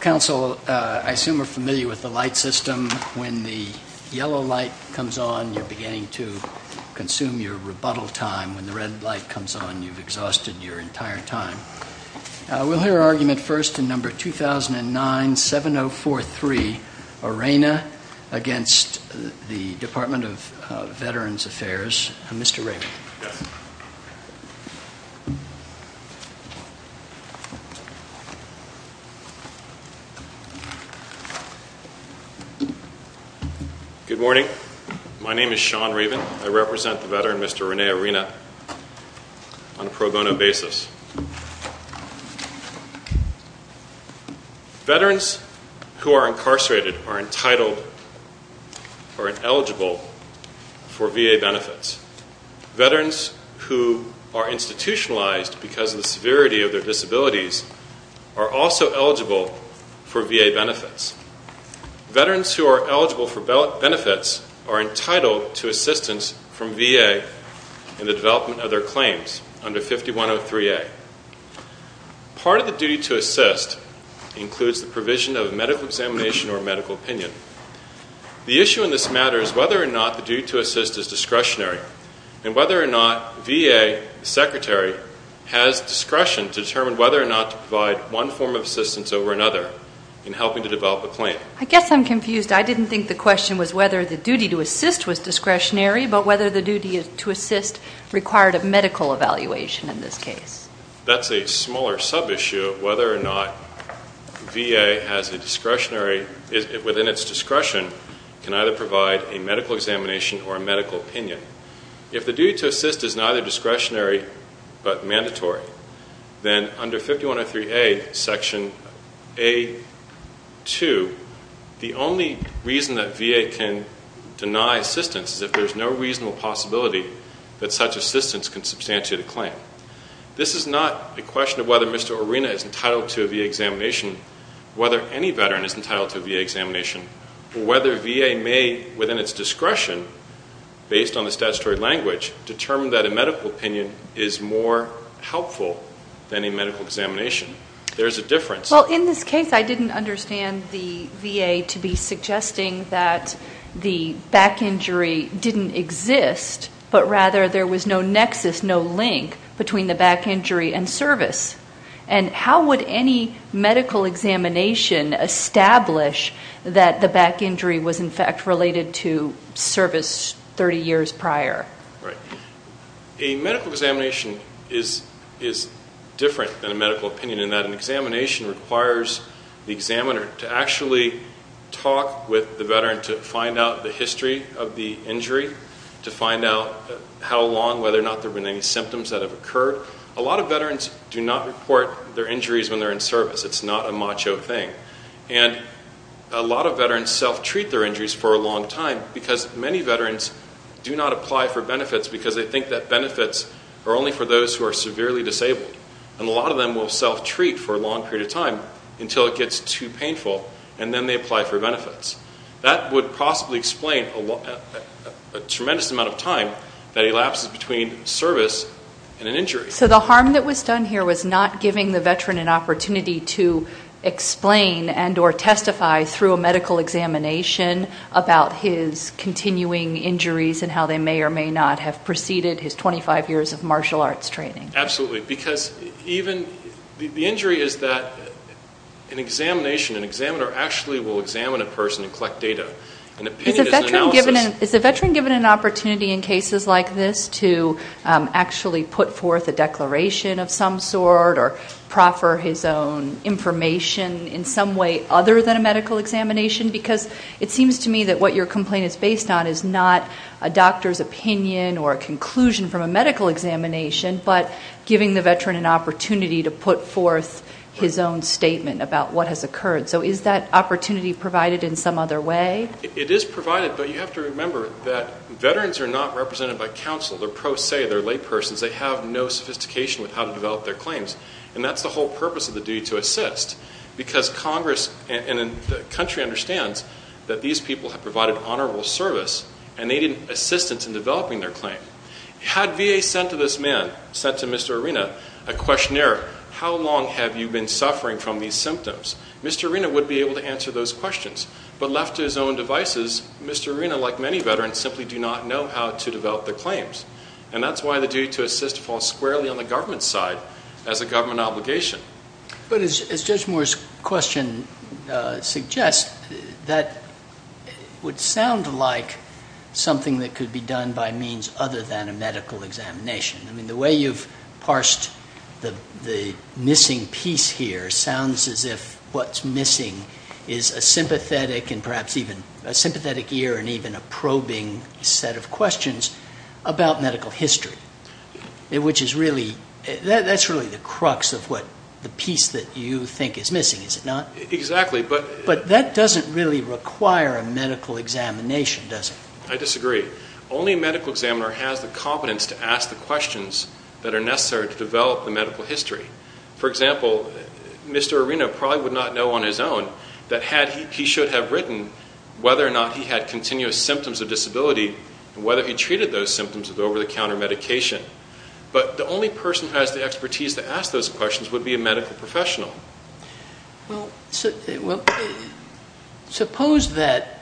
Council, I assume you're familiar with the light system. When the yellow light comes on, you're beginning to consume your rebuttal time. When the red light comes on, you've exhausted your entire time. We'll hear argument first in number 2009-7043, Arena, against the Department of Veterans Affairs. Mr. Raven. Yes. Good morning. My name is Sean Raven. I represent the veteran, Mr. Rene Arena, on a pro bono basis. Veterans who are incarcerated are entitled or eligible for VA benefits. Veterans who are institutionalized because of the severity of their disabilities are also eligible for VA benefits. Veterans who are eligible for benefits are entitled to assistance from VA in the development of their claims under 5103A. Part of the duty to assist includes the provision of medical examination or medical opinion. The issue in this matter is whether or not the duty to assist is discretionary and whether or not VA secretary has discretion to determine whether or not to provide one form of assistance over another in helping to develop a claim. I guess I'm confused. I didn't think the question was whether the duty to assist was discretionary, but whether the duty to assist required a medical evaluation in this case. That's a smaller sub-issue of whether or not VA, within its discretion, can either provide a medical examination or a medical opinion. If the duty to assist is neither discretionary but mandatory, then under 5103A, Section A-2, the only reason that VA can deny assistance is if there's no reasonable possibility that such assistance can substantiate a claim. This is not a question of whether Mr. Arena is entitled to a VA examination, whether any veteran is entitled to a VA examination, or whether VA may, within its discretion, based on the statutory language, determine that a medical opinion is more helpful than a medical examination. There's a difference. Well, in this case, I didn't understand the VA to be suggesting that the back injury didn't exist, but rather there was no nexus, no link between the back injury and service. And how would any medical examination establish that the back injury was, in fact, related to service 30 years prior? Right. A medical examination is different than a medical opinion in that an examination requires the examiner to actually talk with the veteran to find out the history of the injury, to find out how long, whether or not there have been any symptoms that have occurred. A lot of veterans do not report their injuries when they're in service. It's not a macho thing. And a lot of veterans self-treat their injuries for a long time because many veterans do not apply for benefits because they think that benefits are only for those who are severely disabled. And a lot of them will self-treat for a long period of time until it gets too painful, and then they apply for benefits. That would possibly explain a tremendous amount of time that elapses between service and an injury. So the harm that was done here was not giving the veteran an opportunity to explain and or testify through a medical examination about his continuing injuries and how they may or may not have preceded his 25 years of martial arts training. Absolutely. Because even the injury is that an examination, an examiner actually will examine a person and collect data. An opinion is an analysis. Is the veteran given an opportunity in cases like this to actually put forth a declaration of some sort or proffer his own information in some way other than a medical examination? Because it seems to me that what your complaint is based on is not a doctor's opinion or a conclusion from a medical examination, but giving the veteran an opportunity to put forth his own statement about what has occurred. So is that opportunity provided in some other way? It is provided, but you have to remember that veterans are not represented by counsel. They're pro se. They're laypersons. They have no sophistication with how to develop their claims. And that's the whole purpose of the duty to assist, because Congress and the country understands that these people have provided honorable service and they need assistance in developing their claim. Had VA sent to this man, sent to Mr. Arena, a questionnaire, how long have you been suffering from these symptoms? Mr. Arena would be able to answer those questions. But left to his own devices, Mr. Arena, like many veterans, simply do not know how to develop their claims. And that's why the duty to assist falls squarely on the government's side as a government obligation. But as Judge Moore's question suggests, that would sound like something that could be done by means other than a medical examination. I mean, the way you've parsed the missing piece here sounds as if what's missing is a sympathetic and perhaps even a sympathetic ear and even a probing set of questions about medical history. That's really the crux of what the piece that you think is missing, is it not? Exactly. But that doesn't really require a medical examination, does it? I disagree. Only a medical examiner has the competence to ask the questions that are necessary to develop the medical history. For example, Mr. Arena probably would not know on his own that he should have written whether or not he had continuous symptoms of disability and whether he treated those symptoms with over-the-counter medication. But the only person who has the expertise to ask those questions would be a medical professional. Well, suppose that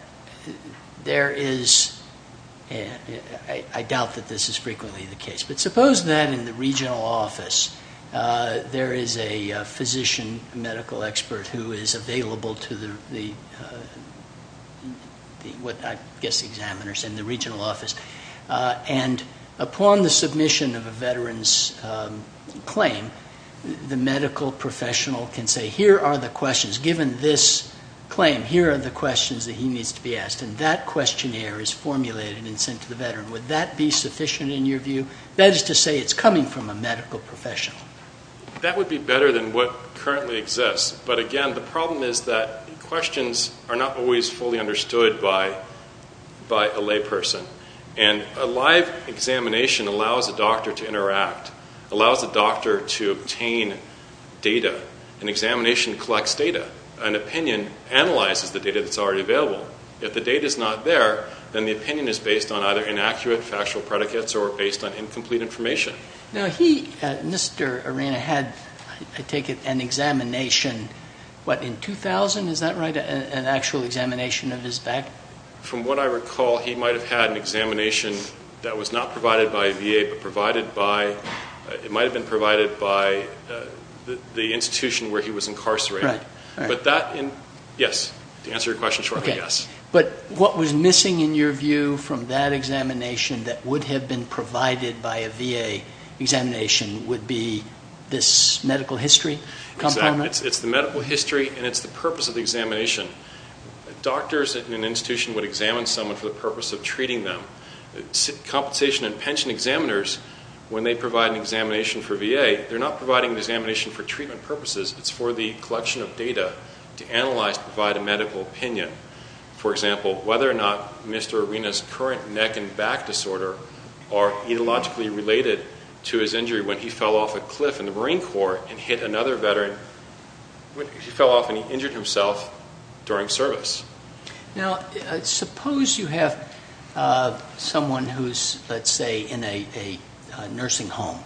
there is – I doubt that this is frequently the case. But suppose that in the regional office there is a physician, a medical expert who is available to the – I guess the examiners in the regional office. And upon the submission of a veteran's claim, the medical professional can say, here are the questions. Given this claim, here are the questions that he needs to be asked. And that questionnaire is formulated and sent to the veteran. Would that be sufficient in your view? That is to say it's coming from a medical professional. That would be better than what currently exists. But, again, the problem is that questions are not always fully understood by a layperson. And a live examination allows a doctor to interact, allows a doctor to obtain data. An examination collects data. An opinion analyzes the data that's already available. If the data is not there, then the opinion is based on either inaccurate factual predicates or based on incomplete information. Now, he, Mr. Arena, had, I take it, an examination, what, in 2000? Is that right? An actual examination of his back? From what I recall, he might have had an examination that was not provided by a VA but provided by – it might have been provided by the institution where he was incarcerated. Right. But that – yes. To answer your question shortly, yes. But what was missing, in your view, from that examination that would have been provided by a VA examination would be this medical history component? Exactly. It's the medical history and it's the purpose of the examination. Doctors in an institution would examine someone for the purpose of treating them. Compensation and pension examiners, when they provide an examination for VA, they're not providing an examination for treatment purposes. It's for the collection of data to analyze, to provide a medical opinion. For example, whether or not Mr. Arena's current neck and back disorder are etiologically related to his injury when he fell off a cliff in the Marine Corps and hit another veteran. He fell off and he injured himself during service. Now, suppose you have someone who's, let's say, in a nursing home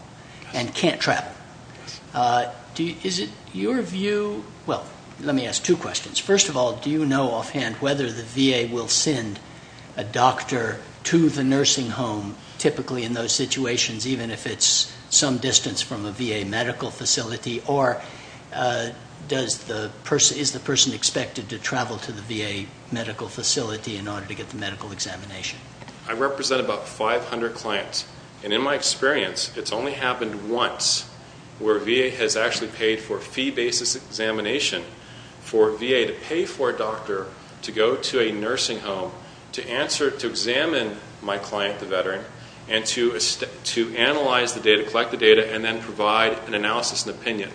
and can't travel. Yes. Is it your view – well, let me ask two questions. First of all, do you know offhand whether the VA will send a doctor to the nursing home, typically in those situations, even if it's some distance from a VA medical facility? Or is the person expected to travel to the VA medical facility in order to get the medical examination? I represent about 500 clients. And in my experience, it's only happened once where VA has actually paid for fee-basis examination for VA to pay for a doctor to go to a nursing home to examine my client, the veteran, and to analyze the data, collect the data, and then provide an analysis and opinion.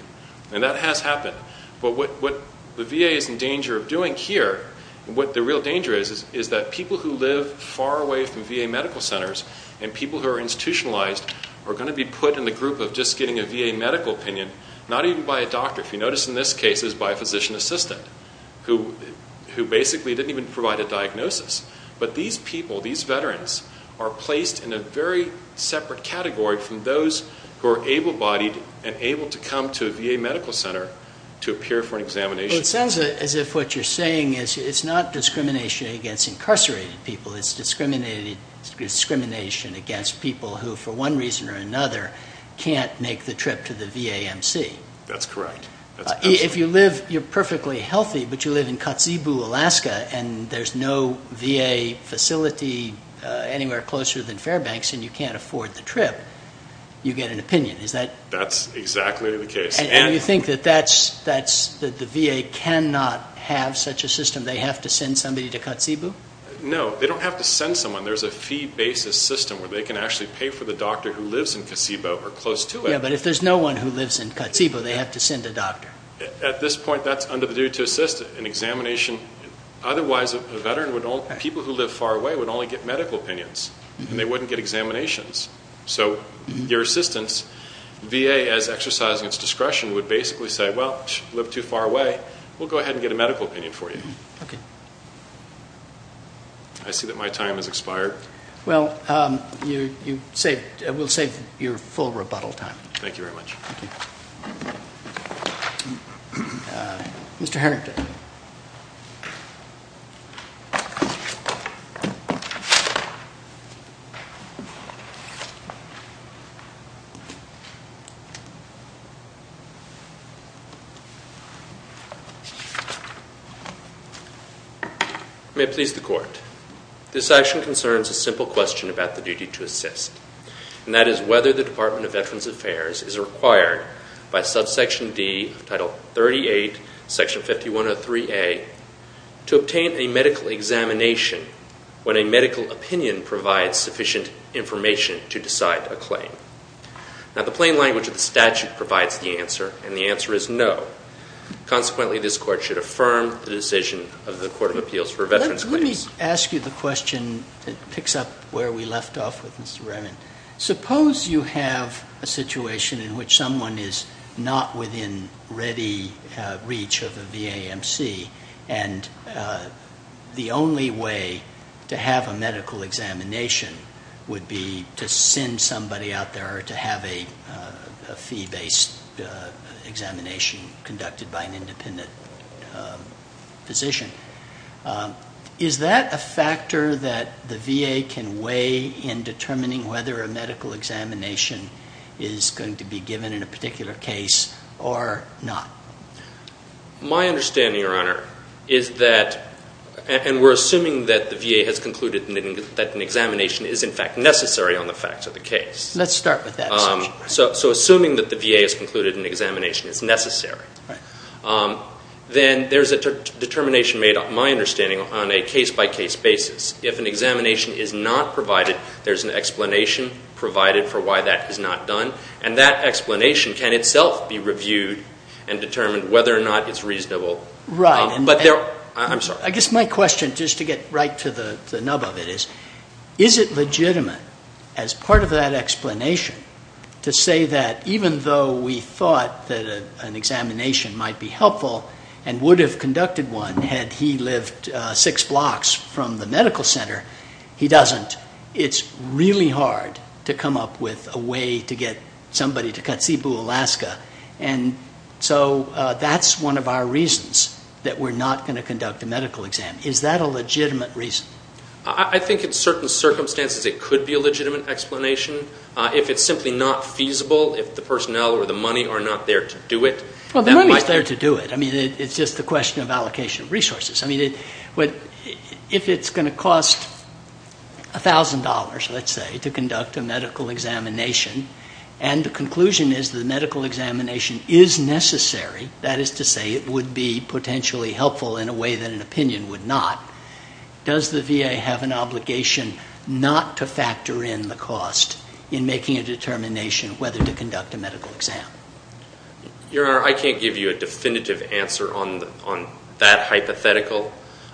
And that has happened. But what the VA is in danger of doing here, what the real danger is, is that people who live far away from VA medical centers and people who are institutionalized are going to be put in the group of just getting a VA medical opinion, not even by a doctor. If you notice in this case, it was by a physician assistant, who basically didn't even provide a diagnosis. But these people, these veterans, are placed in a very separate category from those who are able-bodied and able to come to a VA medical center to appear for an examination. Well, it sounds as if what you're saying is it's not discrimination against incarcerated people. It's discrimination against people who, for one reason or another, can't make the trip to the VAMC. That's correct. If you live, you're perfectly healthy, but you live in Kotzebue, Alaska, and there's no VA facility anywhere closer than Fairbanks and you can't afford the trip, you get an opinion. Is that? That's exactly the case. And you think that the VA cannot have such a system? They have to send somebody to Kotzebue? No. They don't have to send someone. There's a fee-basis system where they can actually pay for the doctor who lives in Kotzebue or close to it. Yeah, but if there's no one who lives in Kotzebue, they have to send a doctor. At this point, that's under the duty to assist in examination. Otherwise, people who live far away would only get medical opinions, and they wouldn't get examinations. So your assistance, VA, as exercising its discretion, would basically say, well, you live too far away, we'll go ahead and get a medical opinion for you. Okay. I see that my time has expired. Well, we'll save your full rebuttal time. Thank you very much. Thank you. Mr. Harrington. May it please the Court. This action concerns a simple question about the duty to assist, and that is whether the Department of Veterans Affairs is required by subsection D, Title 38, Section 5103A, to obtain a medical examination when a medical opinion provides sufficient information to decide a claim. Now, the plain language of the statute provides the answer, and the answer is no. Consequently, this Court should affirm the decision of the Court of Appeals for Veterans' Claims. Let me ask you the question that picks up where we left off with Mr. Raymond. Suppose you have a situation in which someone is not within ready reach of a VAMC, and the only way to have a medical examination would be to send somebody out there to have a fee-based examination conducted by an independent physician. Is that a factor that the VA can weigh in determining whether a medical examination is going to be given in a particular case or not? My understanding, Your Honor, is that, and we're assuming that the VA has concluded that an examination is, in fact, necessary on the facts of the case. Let's start with that section. So assuming that the VA has concluded an examination is necessary, then there's a determination made, my understanding, on a case-by-case basis. If an examination is not provided, there's an explanation provided for why that is not done, and that explanation can itself be reviewed and determined whether or not it's reasonable. Right. I'm sorry. I guess my question, just to get right to the nub of it, is, is it legitimate, as part of that explanation, to say that even though we thought that an examination might be helpful and would have conducted one had he lived six blocks from the medical center, he doesn't. It's really hard to come up with a way to get somebody to Katsibu, Alaska. And so that's one of our reasons that we're not going to conduct a medical exam. Is that a legitimate reason? I think in certain circumstances it could be a legitimate explanation. If it's simply not feasible, if the personnel or the money are not there to do it, that might be. Well, the money's there to do it. I mean, it's just a question of allocation of resources. I mean, if it's going to cost $1,000, let's say, to conduct a medical examination, and the conclusion is the medical examination is necessary, that is to say it would be potentially helpful in a way that an opinion would not, does the VA have an obligation not to factor in the cost in making a determination whether to conduct a medical exam? Your Honor, I can't give you a definitive answer on that hypothetical.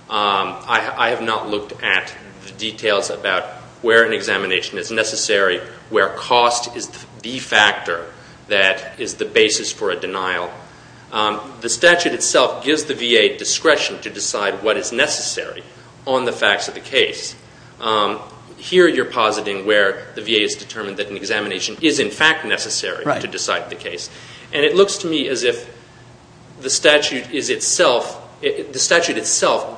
I have not looked at the details about where an examination is necessary, where cost is the factor that is the basis for a denial. The statute itself gives the VA discretion to decide what is necessary on the facts of the case. Here you're positing where the VA has determined that an examination is in fact necessary to decide the case. And it looks to me as if the statute itself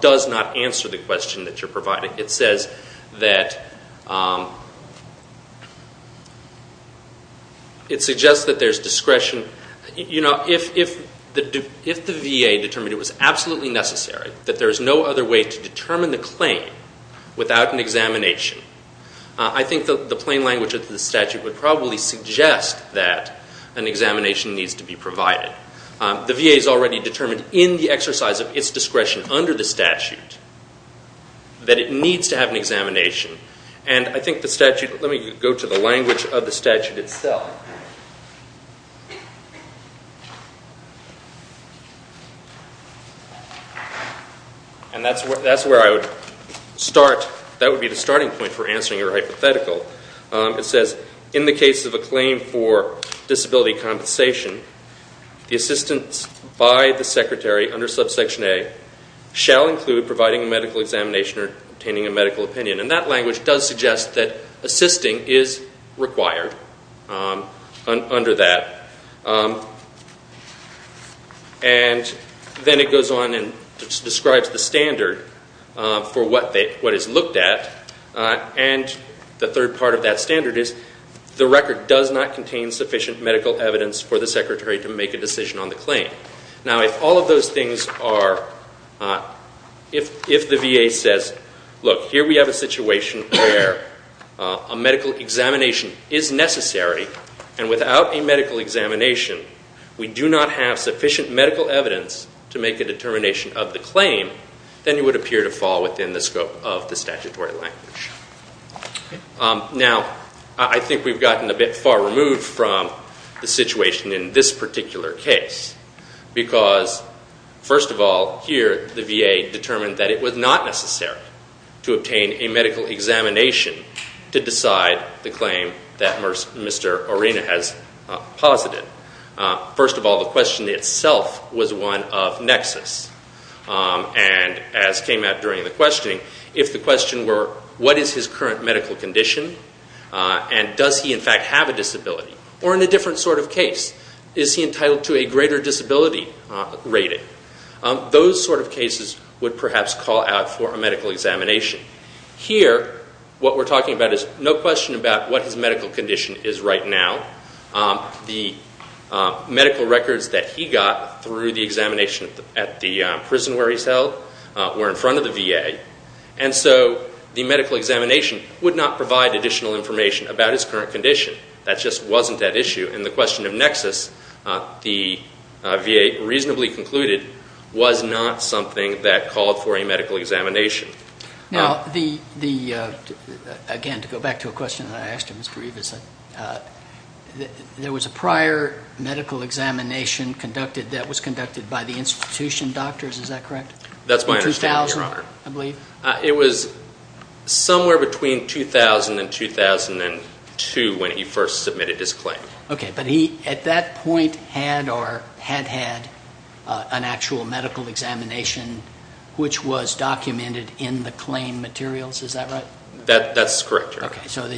does not answer the question that you're providing. It says that it suggests that there's discretion. You know, if the VA determined it was absolutely necessary, that there's no other way to determine the claim without an examination, I think the plain language of the statute would probably suggest that an examination needs to be provided. The VA's already determined in the exercise of its discretion under the statute that it needs to have an examination. And I think the statute, let me go to the language of the statute itself. And that's where I would start, that would be the starting point for answering your hypothetical. It says, in the case of a claim for disability compensation, the assistance by the secretary under subsection A shall include providing a medical examination or obtaining a medical opinion. And that language does suggest that assisting is required under that. And then it goes on and describes the standard for what is looked at. And the third part of that standard is, the record does not contain sufficient medical evidence for the secretary to make a decision on the claim. Now, if all of those things are, if the VA says, look, here we have a situation where a medical examination is necessary, and without a medical examination we do not have sufficient medical evidence to make a determination of the claim, then you would appear to fall within the scope of the statutory language. Now, I think we've gotten a bit far removed from the situation in this particular case, because, first of all, here the VA determined that it was not necessary to obtain a medical examination to decide the claim that Mr. Arena has posited. First of all, the question itself was one of nexus. And as came out during the questioning, if the question were, what is his current medical condition and does he in fact have a disability? Or in a different sort of case, is he entitled to a greater disability rating? Those sort of cases would perhaps call out for a medical examination. Here, what we're talking about is no question about what his medical condition is right now. The medical records that he got through the examination at the prison where he's held were in front of the VA, and so the medical examination would not provide additional information about his current condition. That just wasn't at issue in the question of nexus. The VA reasonably concluded was not something that called for a medical examination. Now, again, to go back to a question that I asked Mr. Rivas, there was a prior medical examination conducted that was conducted by the institution doctors, is that correct? That's my understanding, Your Honor. 2000, I believe? It was somewhere between 2000 and 2002 when he first submitted his claim. Okay, but he at that point had or had had an actual medical examination which was documented in the claim materials, is that right? That's correct, Your Honor. So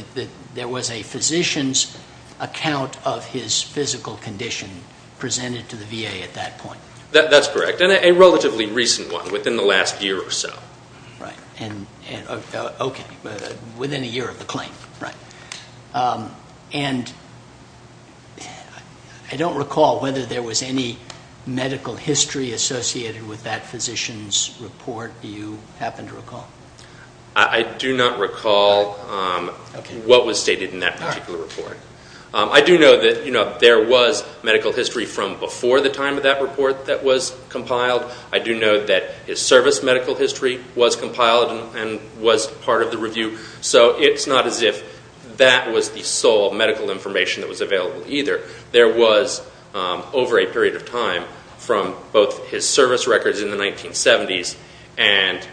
there was a physician's account of his physical condition presented to the VA at that point? That's correct, and a relatively recent one, within the last year or so. Okay, within a year of the claim, right. And I don't recall whether there was any medical history associated with that physician's report. Do you happen to recall? I do not recall what was stated in that particular report. I do know that there was medical history from before the time of that report that was compiled. I do know that his service medical history was compiled and was part of the review. So it's not as if that was the sole medical information that was available either. There was, over a period of time, from both his service records in the 1970s and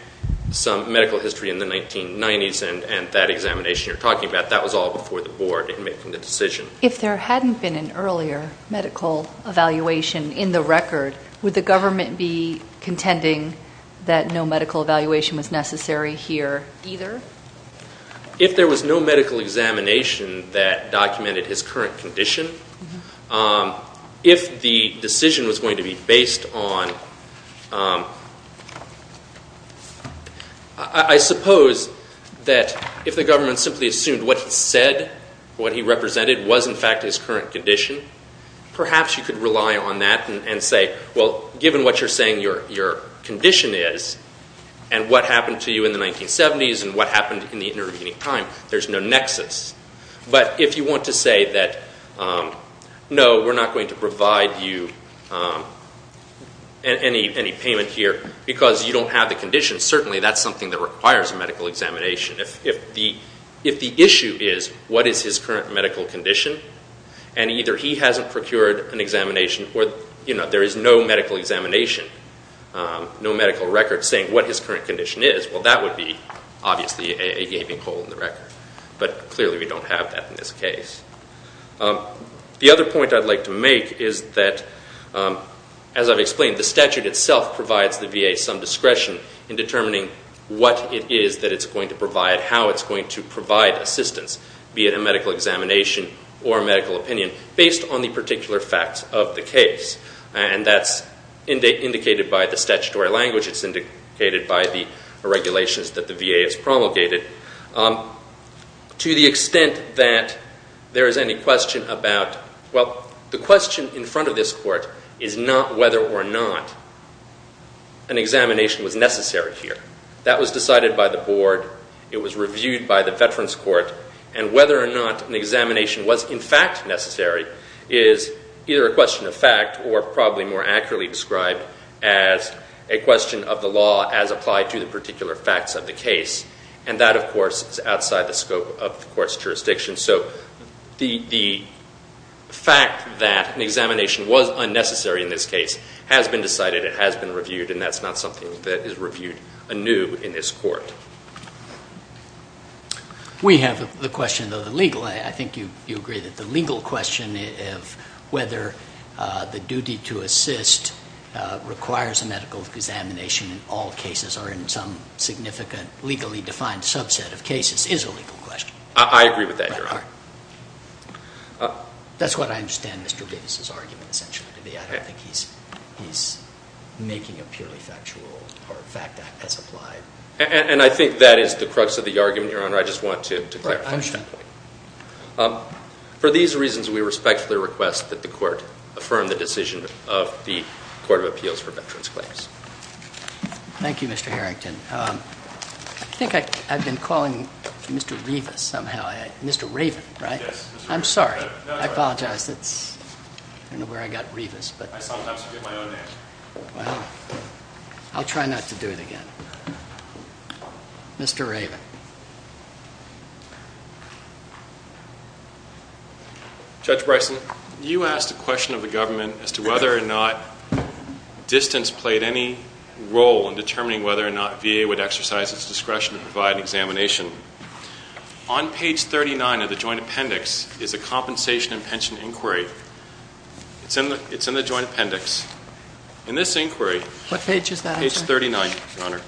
some medical history in the 1990s, and that examination you're talking about, that was all before the board in making the decision. If there hadn't been an earlier medical evaluation in the record, would the government be contending that no medical evaluation was necessary here either? If there was no medical examination that documented his current condition, if the decision was going to be based on, I suppose that if the government simply assumed what he said, what he represented, was in fact his current condition, perhaps you could rely on that and say, well, given what you're saying your condition is and what happened to you in the 1970s and what happened in the intervening time, there's no nexus. But if you want to say that, no, we're not going to provide you any payment here because you don't have the condition, certainly that's something that requires a medical examination. If the issue is what is his current medical condition and either he hasn't procured an examination or there is no medical examination, no medical record saying what his current condition is, well, that would be obviously a gaping hole in the record. But clearly we don't have that in this case. The other point I'd like to make is that, as I've explained, the statute itself provides the VA some discretion in determining what it is that it's going to provide, how it's going to provide assistance, be it a medical examination or a medical opinion, based on the particular facts of the case. And that's indicated by the statutory language. It's indicated by the regulations that the VA has promulgated. To the extent that there is any question about, well, the question in front of this court is not whether or not an examination was necessary here. That was decided by the board. It was reviewed by the Veterans Court. And whether or not an examination was in fact necessary is either a question of fact or probably more accurately described as a question of the law as applied to the particular facts of the case. And that, of course, is outside the scope of the court's jurisdiction. So the fact that an examination was unnecessary in this case has been decided. It has been reviewed, and that's not something that is reviewed anew in this court. We have the question of the legal. I think you agree that the legal question of whether the duty to assist requires a medical examination in all cases or in some significant legally defined subset of cases is a legal question. I agree with that, Your Honor. That's what I understand Mr. Davis' argument essentially to be. I don't think he's making a purely factual or fact as applied. And I think that is the crux of the argument, Your Honor. I just want to clarify. I understand. For these reasons, we respectfully request that the court affirm the decision of the Court of Appeals for Veterans Claims. Thank you, Mr. Harrington. I think I've been calling Mr. Rivas somehow. Mr. Raven, right? Yes. I'm sorry. I apologize. I don't know where I got Rivas. I sometimes forget my own name. Well, I'll try not to do it again. Mr. Raven. Judge Bryson, you asked a question of the government as to whether or not distance played any role in determining whether or not VA would exercise its discretion to provide an examination. On page 39 of the joint appendix is a compensation and pension inquiry. It's in the joint appendix. In this inquiry. What page is that? Page 39, Your Honor.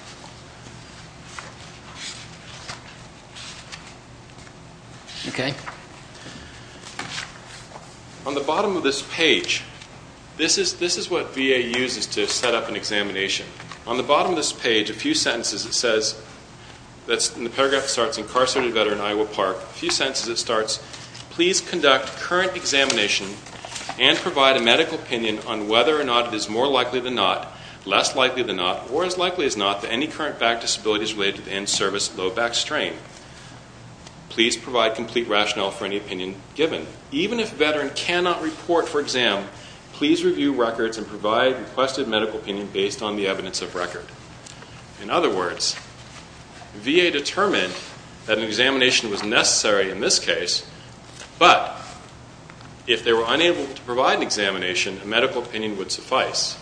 Okay. On the bottom of this page, this is what VA uses to set up an examination. On the bottom of this page, a few sentences it says, and the paragraph starts incarcerated veteran Iowa Park. A few sentences it starts, please conduct current examination and provide a medical opinion on whether or not it is more likely than not, less likely than not, or as likely as not that any current back disability is related to the in-service low back strain. Please provide complete rationale for any opinion given. Even if a veteran cannot report for exam, please review records and provide requested medical opinion based on the evidence of record. In other words, VA determined that an examination was necessary in this case, but if they were unable to provide an examination, a medical opinion would suffice.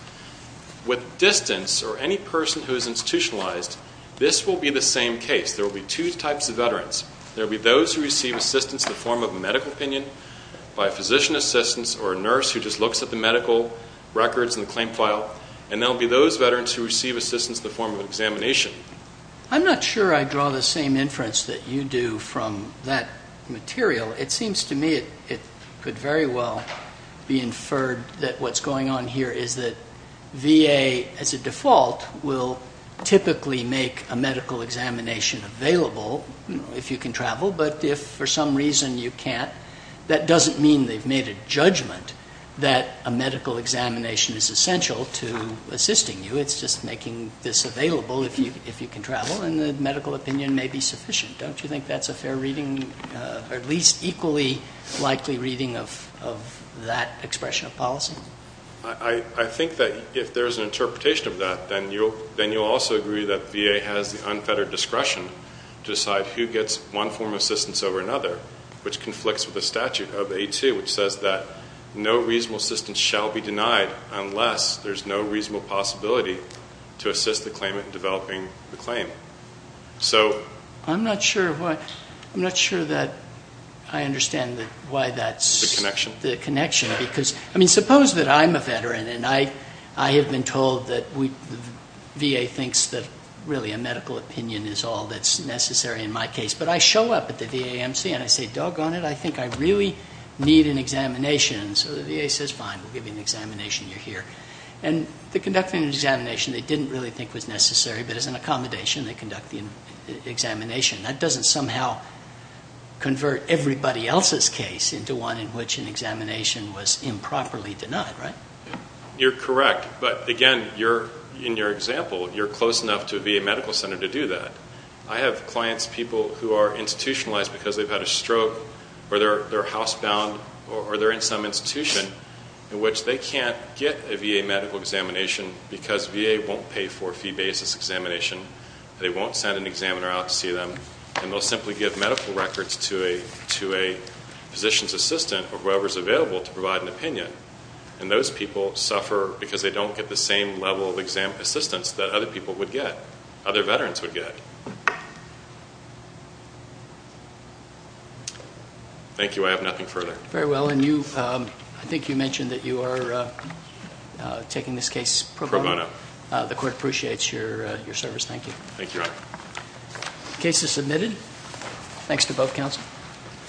With distance or any person who is institutionalized, this will be the same case. There will be two types of veterans. There will be those who receive assistance in the form of a medical opinion by physician assistance or a nurse who just looks at the medical records and the claim file, and there will be those veterans who receive assistance in the form of an examination. I'm not sure I draw the same inference that you do from that material. It seems to me it could very well be inferred that what's going on here is that VA as a default will typically make a medical examination available if you can travel, but if for some reason you can't, that doesn't mean they've made a judgment that a medical examination is essential to assisting you. It's just making this available if you can travel, and the medical opinion may be sufficient. Don't you think that's a fair reading or at least equally likely reading of that expression of policy? I think that if there's an interpretation of that, then you'll also agree that VA has the unfettered discretion to decide who gets one form of assistance over another, which conflicts with the statute of A2, which says that no reasonable assistance shall be denied unless there's no reasonable possibility to assist the claimant in developing the claim. I'm not sure that I understand why that's the connection. Suppose that I'm a veteran and I have been told that the VA thinks that really a medical opinion is all that's necessary in my case, but I show up at the VAMC and I say, doggone it, I think I really need an examination. So the VA says, fine, we'll give you an examination, you're here. And they conduct an examination they didn't really think was necessary, but as an accommodation they conduct the examination. That doesn't somehow convert everybody else's case into one in which an examination was improperly denied, right? You're correct, but again, in your example, you're close enough to a VA medical center to do that. I have clients, people who are institutionalized because they've had a stroke, or they're housebound or they're in some institution in which they can't get a VA medical examination because VA won't pay for a fee basis examination, they won't send an examiner out to see them, and they'll simply give medical records to a physician's assistant or whoever's available to provide an opinion. And those people suffer because they don't get the same level of assistance that other people would get, other veterans would get. Thank you. I have nothing further. Very well. And I think you mentioned that you are taking this case pro bono. Pro bono. The court appreciates your service. Thank you. Thank you, Your Honor. The case is submitted. Thanks to both counsel.